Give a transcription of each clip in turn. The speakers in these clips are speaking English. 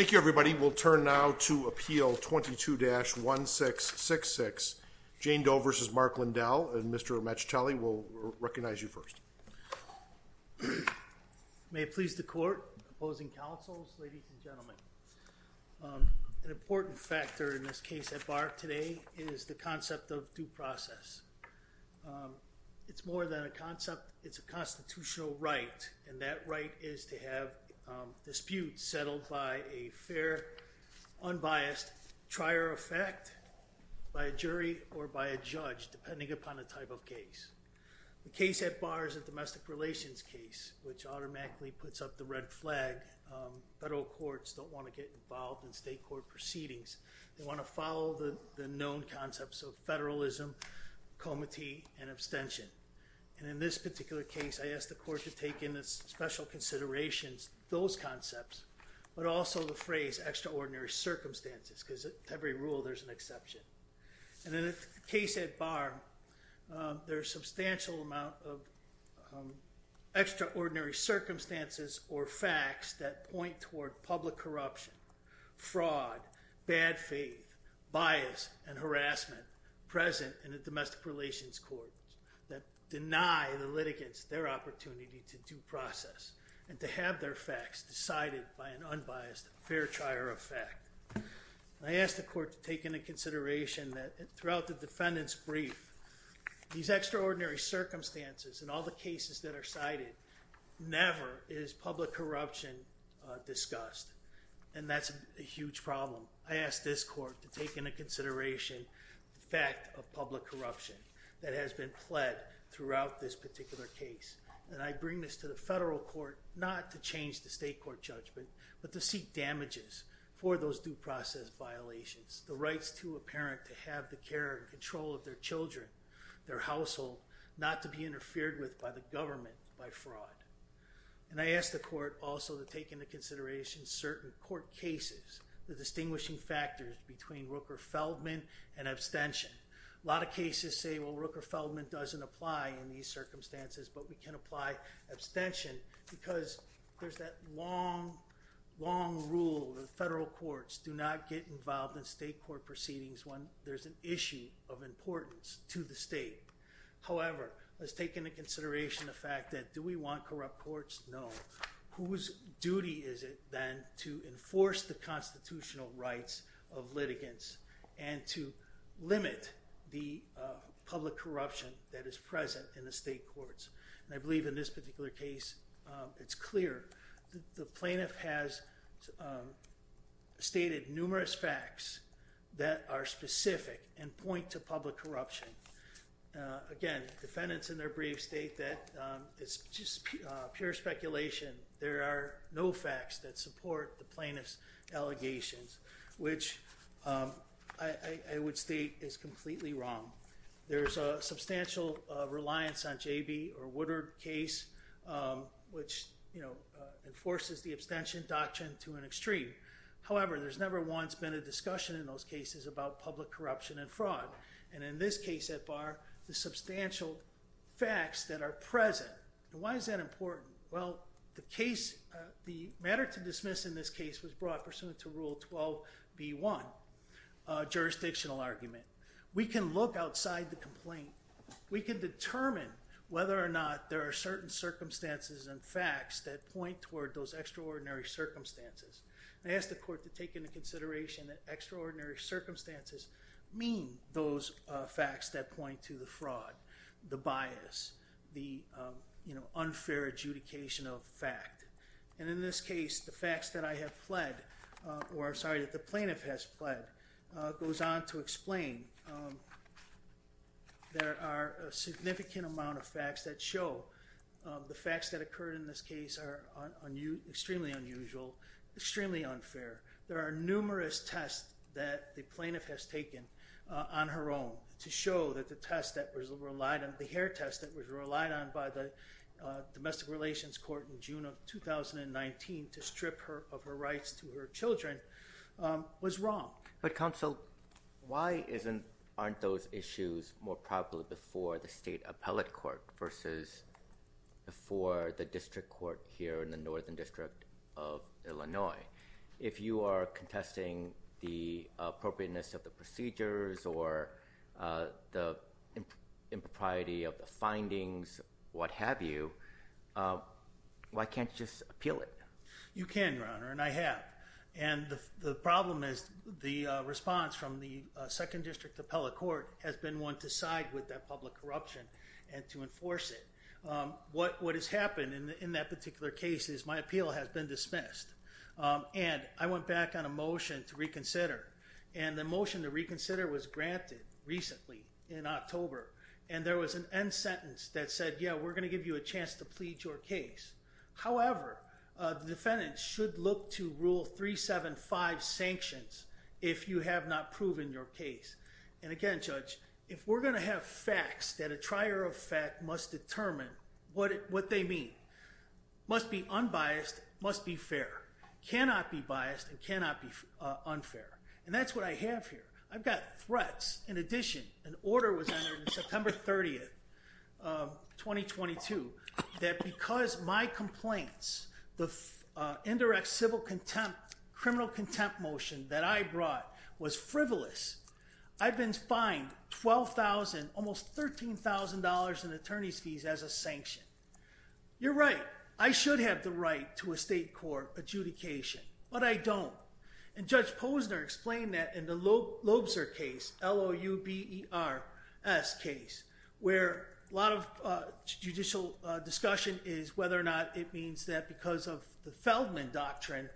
Thank you everybody. We'll turn now to Appeal 22-1666, Jane Doe v. Mark Lindell, and Mr. Mecitelli will recognize you first. May it please the court, opposing counsels, ladies and gentlemen. An important factor in this case at bar today is the concept of due process. It's more than a concept, it's a constitutional right, and that right is to have disputes settled by a fair, unbiased, trier effect by a jury or by a judge, depending upon the type of case. The case at bar is a domestic relations case, which automatically puts up the red flag. Federal courts don't want to get involved in state court proceedings. They want to follow the known concepts of the case. I ask the court to take into special consideration those concepts, but also the phrase extraordinary circumstances, because every rule there's an exception. In the case at bar, there's a substantial amount of extraordinary circumstances or facts that point toward public corruption, fraud, bad faith, bias, and harassment present in the domestic relations court that deny the litigants their opportunity to due process and to have their facts decided by an unbiased, fair, trier effect. I ask the court to take into consideration that throughout the defendant's brief, these extraordinary circumstances and all the cases that are cited never is public corruption discussed, and that's a huge problem. I ask this court to take into consideration the fact of public corruption that has been pled throughout this particular case, and I bring this to the federal court not to change the state court judgment, but to seek damages for those due process violations, the rights to a parent to have the care and control of their children, their household, not to be interfered with by the government by fraud. And I ask the court also to take into consideration certain court cases, the distinguishing factors between Rooker-Feldman and abstention. A lot of cases say, well, Rooker-Feldman doesn't apply in these circumstances, but we can apply abstention because there's that long, long rule that federal courts do not get involved in state court proceedings when there's an issue of importance to the state. However, let's take into consideration the fact that do we want corrupt courts? No. Whose duty is it then to enforce the constitutional rights of litigants and to limit the public corruption that is present in the state courts? And I believe in this particular case, it's clear. The plaintiff has stated numerous facts that are specific and pure speculation. There are no facts that support the plaintiff's allegations, which I would state is completely wrong. There's a substantial reliance on J.B. or Woodard case, which enforces the abstention doctrine to an extreme. However, there's never once been a discussion in those cases about public corruption and fraud. And in this case at bar, the substantial facts that are important. Why is that important? Well, the matter to dismiss in this case was brought pursuant to rule 12B1, jurisdictional argument. We can look outside the complaint. We can determine whether or not there are certain circumstances and facts that point toward those extraordinary circumstances. I ask the court to take into consideration that extraordinary circumstances mean those facts that unfair adjudication of fact. And in this case, the facts that I have pled, or sorry, that the plaintiff has pled goes on to explain. There are a significant amount of facts that show the facts that occurred in this case are extremely unusual, extremely unfair. There are numerous tests that the plaintiff has taken on her own to show that the test that was relied on, the hair test that was relied on by the domestic relations court in June of 2019 to strip her of her rights to her children was wrong. But counsel, why aren't those issues more popular before the state appellate court versus before the district court here in the Northern District of Illinois? If you are contesting the appropriateness of the procedures or the impropriety of the findings, what have you, why can't you just appeal it? You can, Your Honor, and I have. And the problem is the response from the second district appellate court has been one to side with that public corruption and to enforce it. What has happened in that particular case is my appeal has been dismissed. And I went back on motion to reconsider. And the motion to reconsider was granted recently in October. And there was an end sentence that said, yeah, we're going to give you a chance to plead your case. However, the defendant should look to rule 375 sanctions if you have not proven your case. And again, Judge, if we're going to have facts that a trier of fact must determine what they mean, must be unbiased, must be fair, cannot be biased and cannot be unfair. And that's what I have here. I've got threats. In addition, an order was entered in September 30th, 2022, that because my complaints, the indirect civil contempt, criminal contempt motion that I brought was frivolous. I've been fined 12,000, almost $13,000 in attorney's fees as a sanction. You're right. I should have the right to a state court adjudication, but I don't. And Judge Posner explained that in the Lobser case, L-O-U-B-E-R-S case, where a lot of judicial discussion is whether or not it means that because of the Feldman doctrine,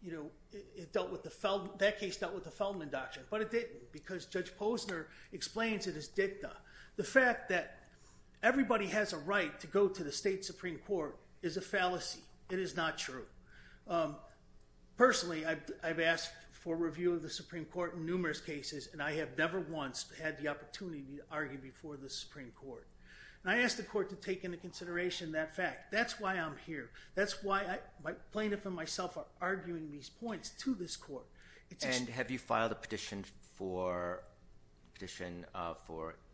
you know, it dealt with the Feldman, that case dealt with the Feldman doctrine, but it didn't because Judge Posner explains it The fact that everybody has a right to go to the state Supreme Court is a fallacy. It is not true. Personally, I've asked for review of the Supreme Court in numerous cases, and I have never once had the opportunity to argue before the Supreme Court. And I asked the court to take into consideration that fact. That's why I'm here. That's why my plaintiff and myself are arguing these points to this court. And have you filed a petition for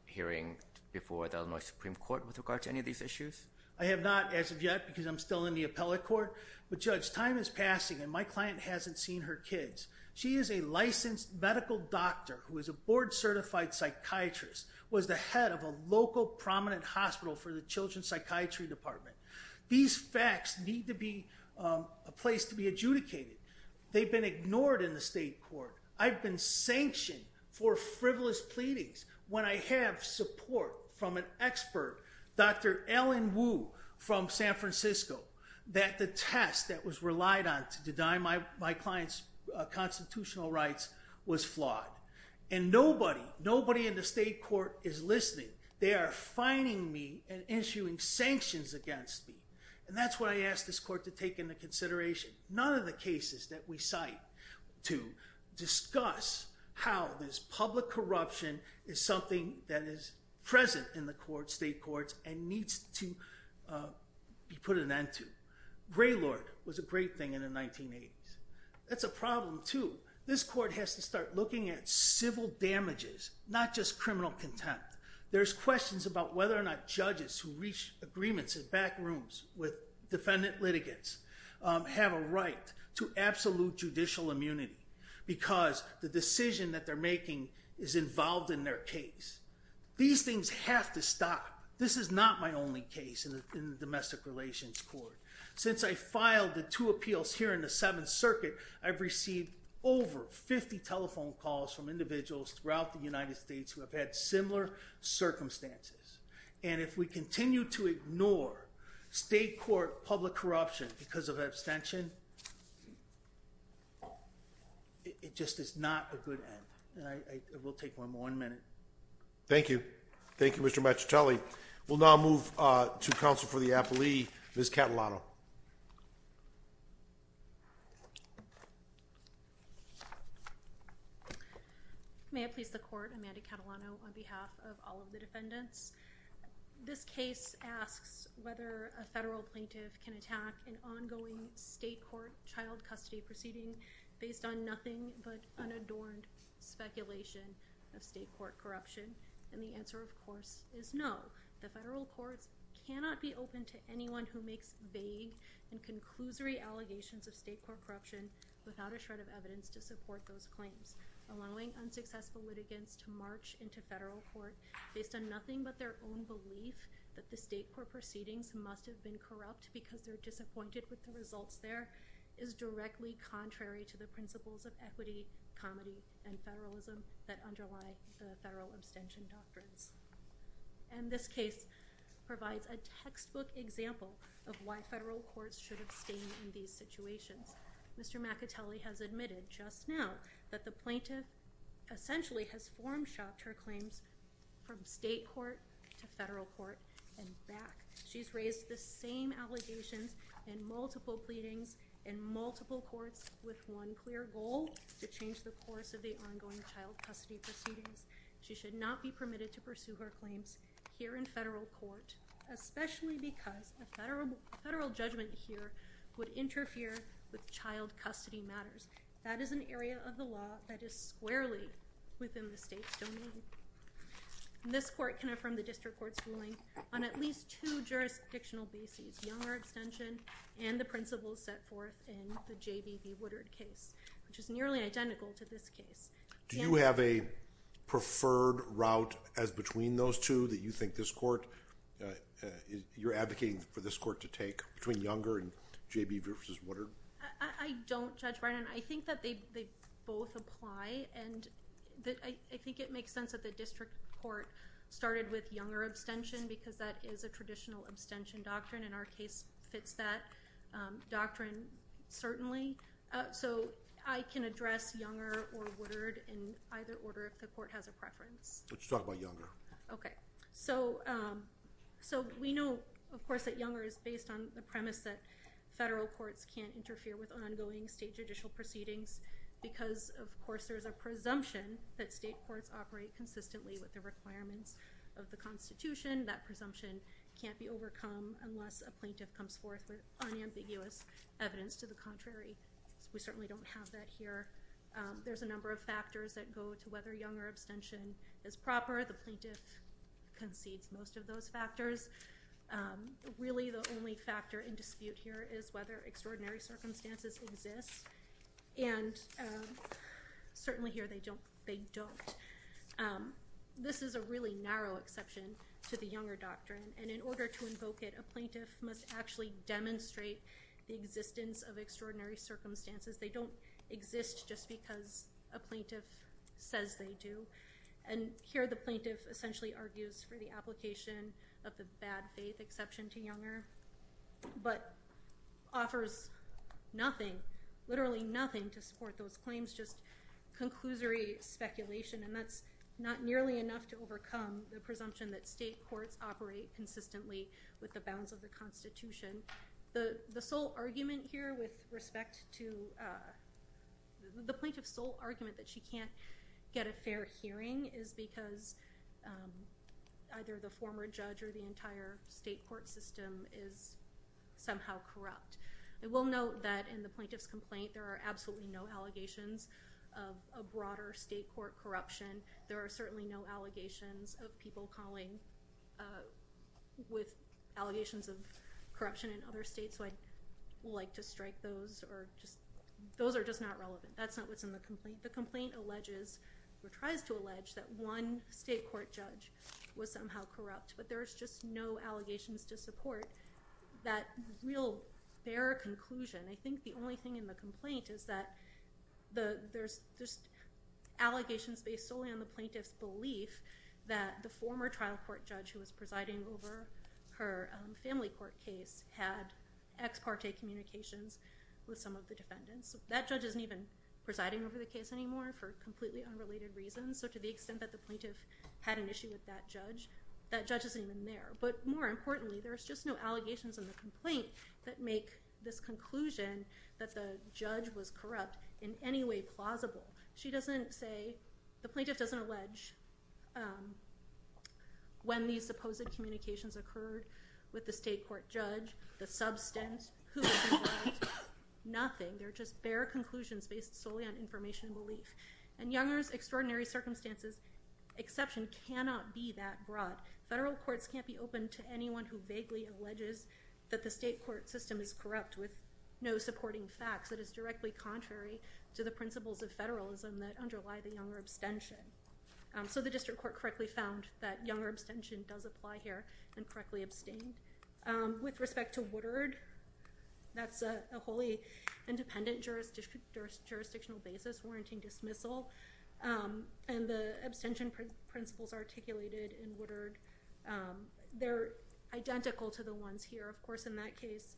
hearing before the Illinois Supreme Court with regard to any of these issues? I have not as of yet because I'm still in the appellate court. But Judge, time is passing and my client hasn't seen her kids. She is a licensed medical doctor who is a board certified psychiatrist, was the head of a local prominent hospital for They've been ignored in the state court. I've been sanctioned for frivolous pleadings when I have support from an expert, Dr. Ellen Wu from San Francisco, that the test that was relied on to deny my client's constitutional rights was flawed. And nobody, nobody in the state court is listening. They are fining me and issuing sanctions against me. And that's what I asked this court to take into consideration. None of the cases that we cite to discuss how this public corruption is something that is present in the court, state courts, and needs to be put an end to. Graylord was a great thing in the 1980s. That's a problem too. This court has to start looking at civil damages, not just criminal contempt. There's questions about whether or not judges who reach agreements in back rooms with defendant litigants have a right to absolute judicial immunity because the decision that they're making is involved in their case. These things have to stop. This is not my only case in the domestic relations court. Since I filed the two appeals here in the Seventh Circuit, I've received over 50 telephone calls from individuals throughout the United States asking for justice. And if we continue to ignore state court public corruption because of abstention, it just is not a good end. I will take one more minute. Thank you. Thank you, Mr. Matchatelli. We'll now move to counsel for the apple, Ms. Catalano. May I please the court, Amanda Catalano, on behalf of all of the defendants. This case asks whether a federal plaintiff can attack an ongoing state court child custody proceeding based on nothing but unadorned speculation of state court corruption. And the answer of course is no. The federal courts cannot be open to anyone who makes vague and conclusory allegations of state court corruption without a shred of evidence to support those claims. Allowing unsuccessful litigants to march into federal court based on nothing but their own belief that the state court proceedings must have been corrupt because they're disappointed with the results there is directly contrary to the principles of equity, comedy, and federalism that underlie the federal abstention doctrines. And this case provides a textbook example of why federal courts should abstain in these situations. Mr. Matchatelli has admitted just now that the plaintiff essentially has form shopped her claims from state court to federal court and back. She's raised the same allegations and multiple pleadings in multiple courts with one clear goal to change the course of the ongoing child custody proceedings. She should not be permitted to pursue her claims here in federal court, especially because a federal judgment here would interfere with child custody matters. That is an area of the law that is squarely within the state's domain. This court can affirm the district court's ruling on at least two jurisdictional bases, younger abstention and the principles set forth in the J.B. v. Woodard case, which is nearly identical to this case. Do you have a preferred route as between those two that you think this court, you're advocating for this court to take between younger and J.B. v. Woodard? I don't, Judge Brennan. I think that they both apply and I think it makes sense that the district court started with younger abstention because that is a traditional abstention doctrine and our case fits that doctrine certainly. So I can address younger or Woodard in either order if the court has a preference. Let's talk about younger. Okay. So we know, of course, that younger is based on the premise that federal courts can't interfere with ongoing state judicial proceedings because, of course, there's a presumption that state courts operate consistently with the requirements of the Constitution. That presumption can't be overcome unless a plaintiff comes forth with unambiguous evidence to the contrary. We certainly don't have that here. There's a number of factors that go to whether younger abstention is proper. The plaintiff concedes most of those factors. Really the only factor in dispute here is whether extraordinary circumstances exist and certainly here they don't. This is a really important point. The plaintiff must actually demonstrate the existence of extraordinary circumstances. They don't exist just because a plaintiff says they do and here the plaintiff essentially argues for the application of the bad faith exception to younger but offers nothing, literally nothing, to support those claims, just conclusory speculation and that's not nearly enough to overcome the presumption that state courts operate consistently with the bounds of the Constitution. The sole argument here with respect to the plaintiff's sole argument that she can't get a fair hearing is because either the former judge or the entire state court system is somehow corrupt. I will note that in the plaintiff's complaint there are absolutely no allegations of broader state court corruption. There are certainly no allegations of people calling with allegations of corruption in other states so I'd like to strike those. Those are just not relevant. That's not what's in the complaint. The complaint alleges or tries to allege that one state court judge was somehow corrupt but there is just no allegations to support that real, bare conclusion. I think the only thing in the complaint is that there's allegations based solely on the plaintiff's belief that the former trial court judge who was presiding over her family court case had ex parte communications with some of the defendants. That judge isn't even presiding over the case anymore for completely unrelated reasons so to the extent that the plaintiff had an issue with that judge, that judge isn't even there. But more importantly there's just no allegations in the complaint that make this conclusion that the judge was corrupt in any way plausible. She doesn't say, the plaintiff doesn't allege when these supposed communications occurred with the state court judge, the substance, who was involved, nothing. They're just bare conclusions based solely on information and belief. And Younger's extraordinary circumstances exception cannot be that broad. Federal courts can't be open to anyone who vaguely alleges that the state court system is corrupt with no supporting facts that is directly contrary to the principles of federalism that underlie the Younger abstention. So the district court correctly found that Younger abstention does apply here and correctly abstained. With respect to Woodard, that's a wholly independent jurisdictional basis warranting dismissal and the abstention principles articulated in Woodard, they're identical to the ones here. Of course in that case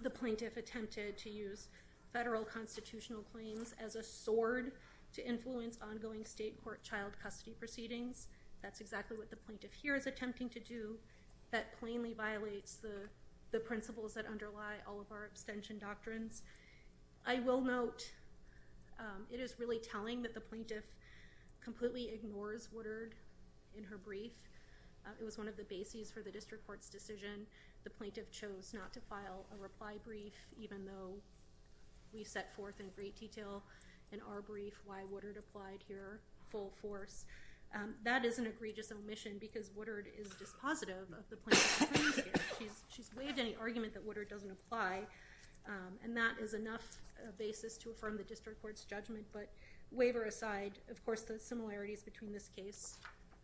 the plaintiff attempted to use federal constitutional claims as a sword to influence ongoing state court child custody proceedings. That's exactly what the plaintiff here is attempting to do. That plainly violates the principles that underlie all of our abstention doctrines. I will note it is really telling that the plaintiff completely ignores Woodard in her brief. It was one of the bases for the district court's decision. The plaintiff chose not to file a reply brief even though we set forth in great detail in our brief why Woodard applied here full force. That is an egregious omission because Woodard is positive of the plaintiff's claims here. She's waived any argument that Woodard doesn't apply and that is enough basis to affirm the district court's judgment. But waiver aside, of course the similarities between this case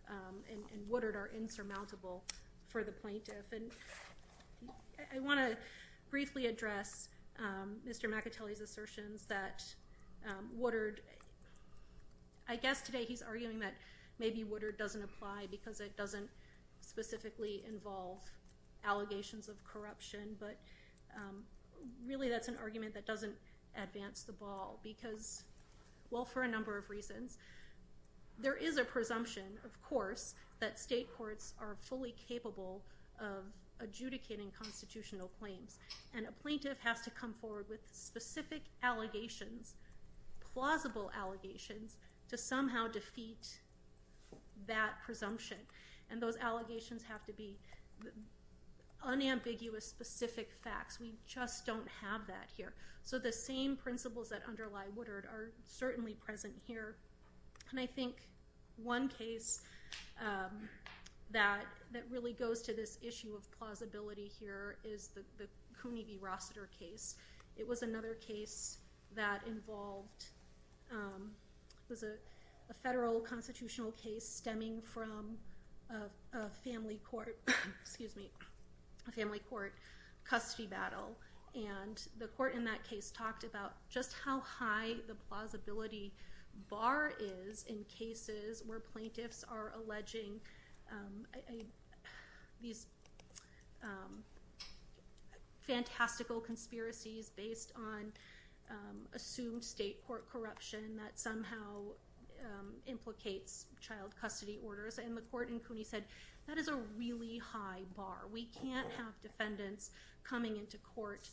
and Woodard are insurmountable for the plaintiff. I want to briefly address Mr. McAtelly's assertions that Woodard, I guess today he's arguing that maybe Woodard doesn't apply because it doesn't specifically involve allegations of corruption, but really that's an argument that doesn't advance the ball because, well for a number of reasons. There is a presumption, of course, that state courts are fully capable of adjudicating constitutional claims and a plaintiff has to come forward with specific allegations, plausible allegations, to somehow defeat that presumption and those allegations have to be unambiguous, specific facts. We just don't have that here. So the same principles that underlie Woodard are certainly present here and I think one case that really goes to this was a federal constitutional case stemming from a family court custody battle and the court in that case talked about just how high the plausibility bar is in cases where plaintiffs are alleging these fantastical conspiracies based on assumed facts. And I think that's true state court corruption that somehow implicates child custody orders and the court in Cooney said that is a really high bar. We can't have defendants coming into court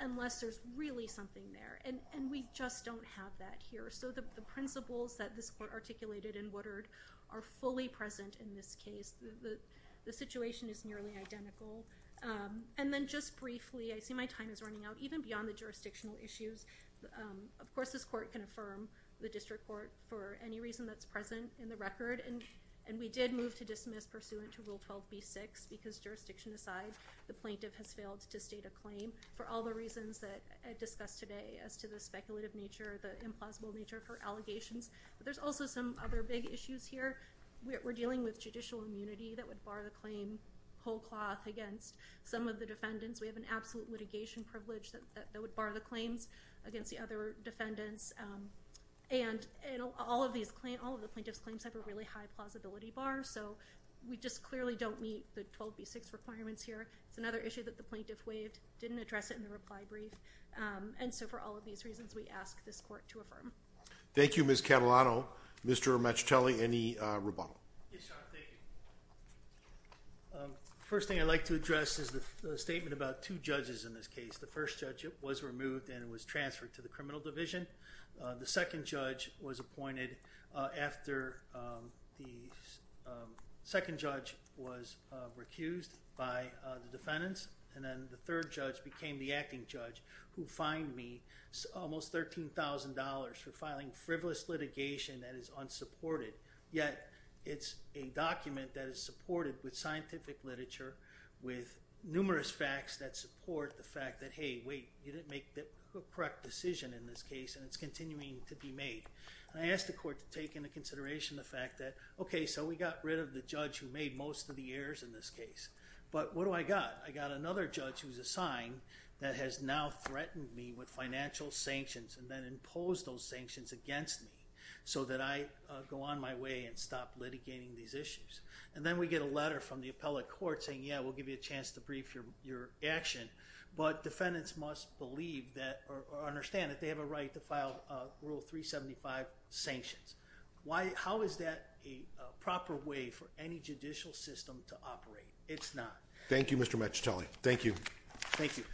unless there's really something there. And we just don't have that here. So the principles that this court articulated in Woodard are fully present in this case. The situation is nearly identical. And then just briefly, I see my time is running out, even beyond the jurisdictional issues. Of course this court can affirm the district court for any reason that's present in the record. And we did move to dismiss pursuant to Rule 12b-6 because jurisdiction aside, the plaintiff has failed to state a claim for all the reasons that I discussed today as to the speculative nature, the implausible nature for allegations. But there's also some other big issues here. We're dealing with judicial immunity that would bar the claim whole cloth against some of the defendants. We have an absolute litigation privilege that would bar the claims against the other defendants. And all of the plaintiff's claims have a really high plausibility bar. So we just clearly don't meet the 12b-6 requirements here. It's another issue that the plaintiff waived, didn't address it in the reply brief. And so for all of these reasons, we ask this court to affirm. Thank you, Ms. Catalano. Mr. Macitelli, any rebuttal? Yes, Your Honor. Thank you. First thing I'd like to address is the statement about two judges in this case. The first judge was removed and was transferred to the criminal division. The second judge was appointed after the second judge was recused by the defendants. And then the third judge became the acting judge who fined me almost $13,000 for filing frivolous litigation that is unsupported, yet it's a document that is supported with scientific literature, with numerous facts that support the fact that, hey, wait, you didn't make the correct decision in this case, and it's continuing to be made. And I ask the court to take into consideration the fact that, okay, so we got rid of the judge who made most of the errors in this case. But what do I got? I got another judge who's assigned that has now threatened me with financial sanctions and then imposed those sanctions against me so that I go on my way and stop litigating these issues. And then we get a letter from the appellate court saying, yeah, we'll give you a chance to brief your action. But defendants must believe that or understand that they have a right to file Rule 375 sanctions. How is that a proper way for any judicial system to operate? It's not. Thank you, Mr. Macitelli. Thank you. Thank you.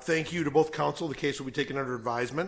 Thank you to both counsel. The case will be taken under advisement.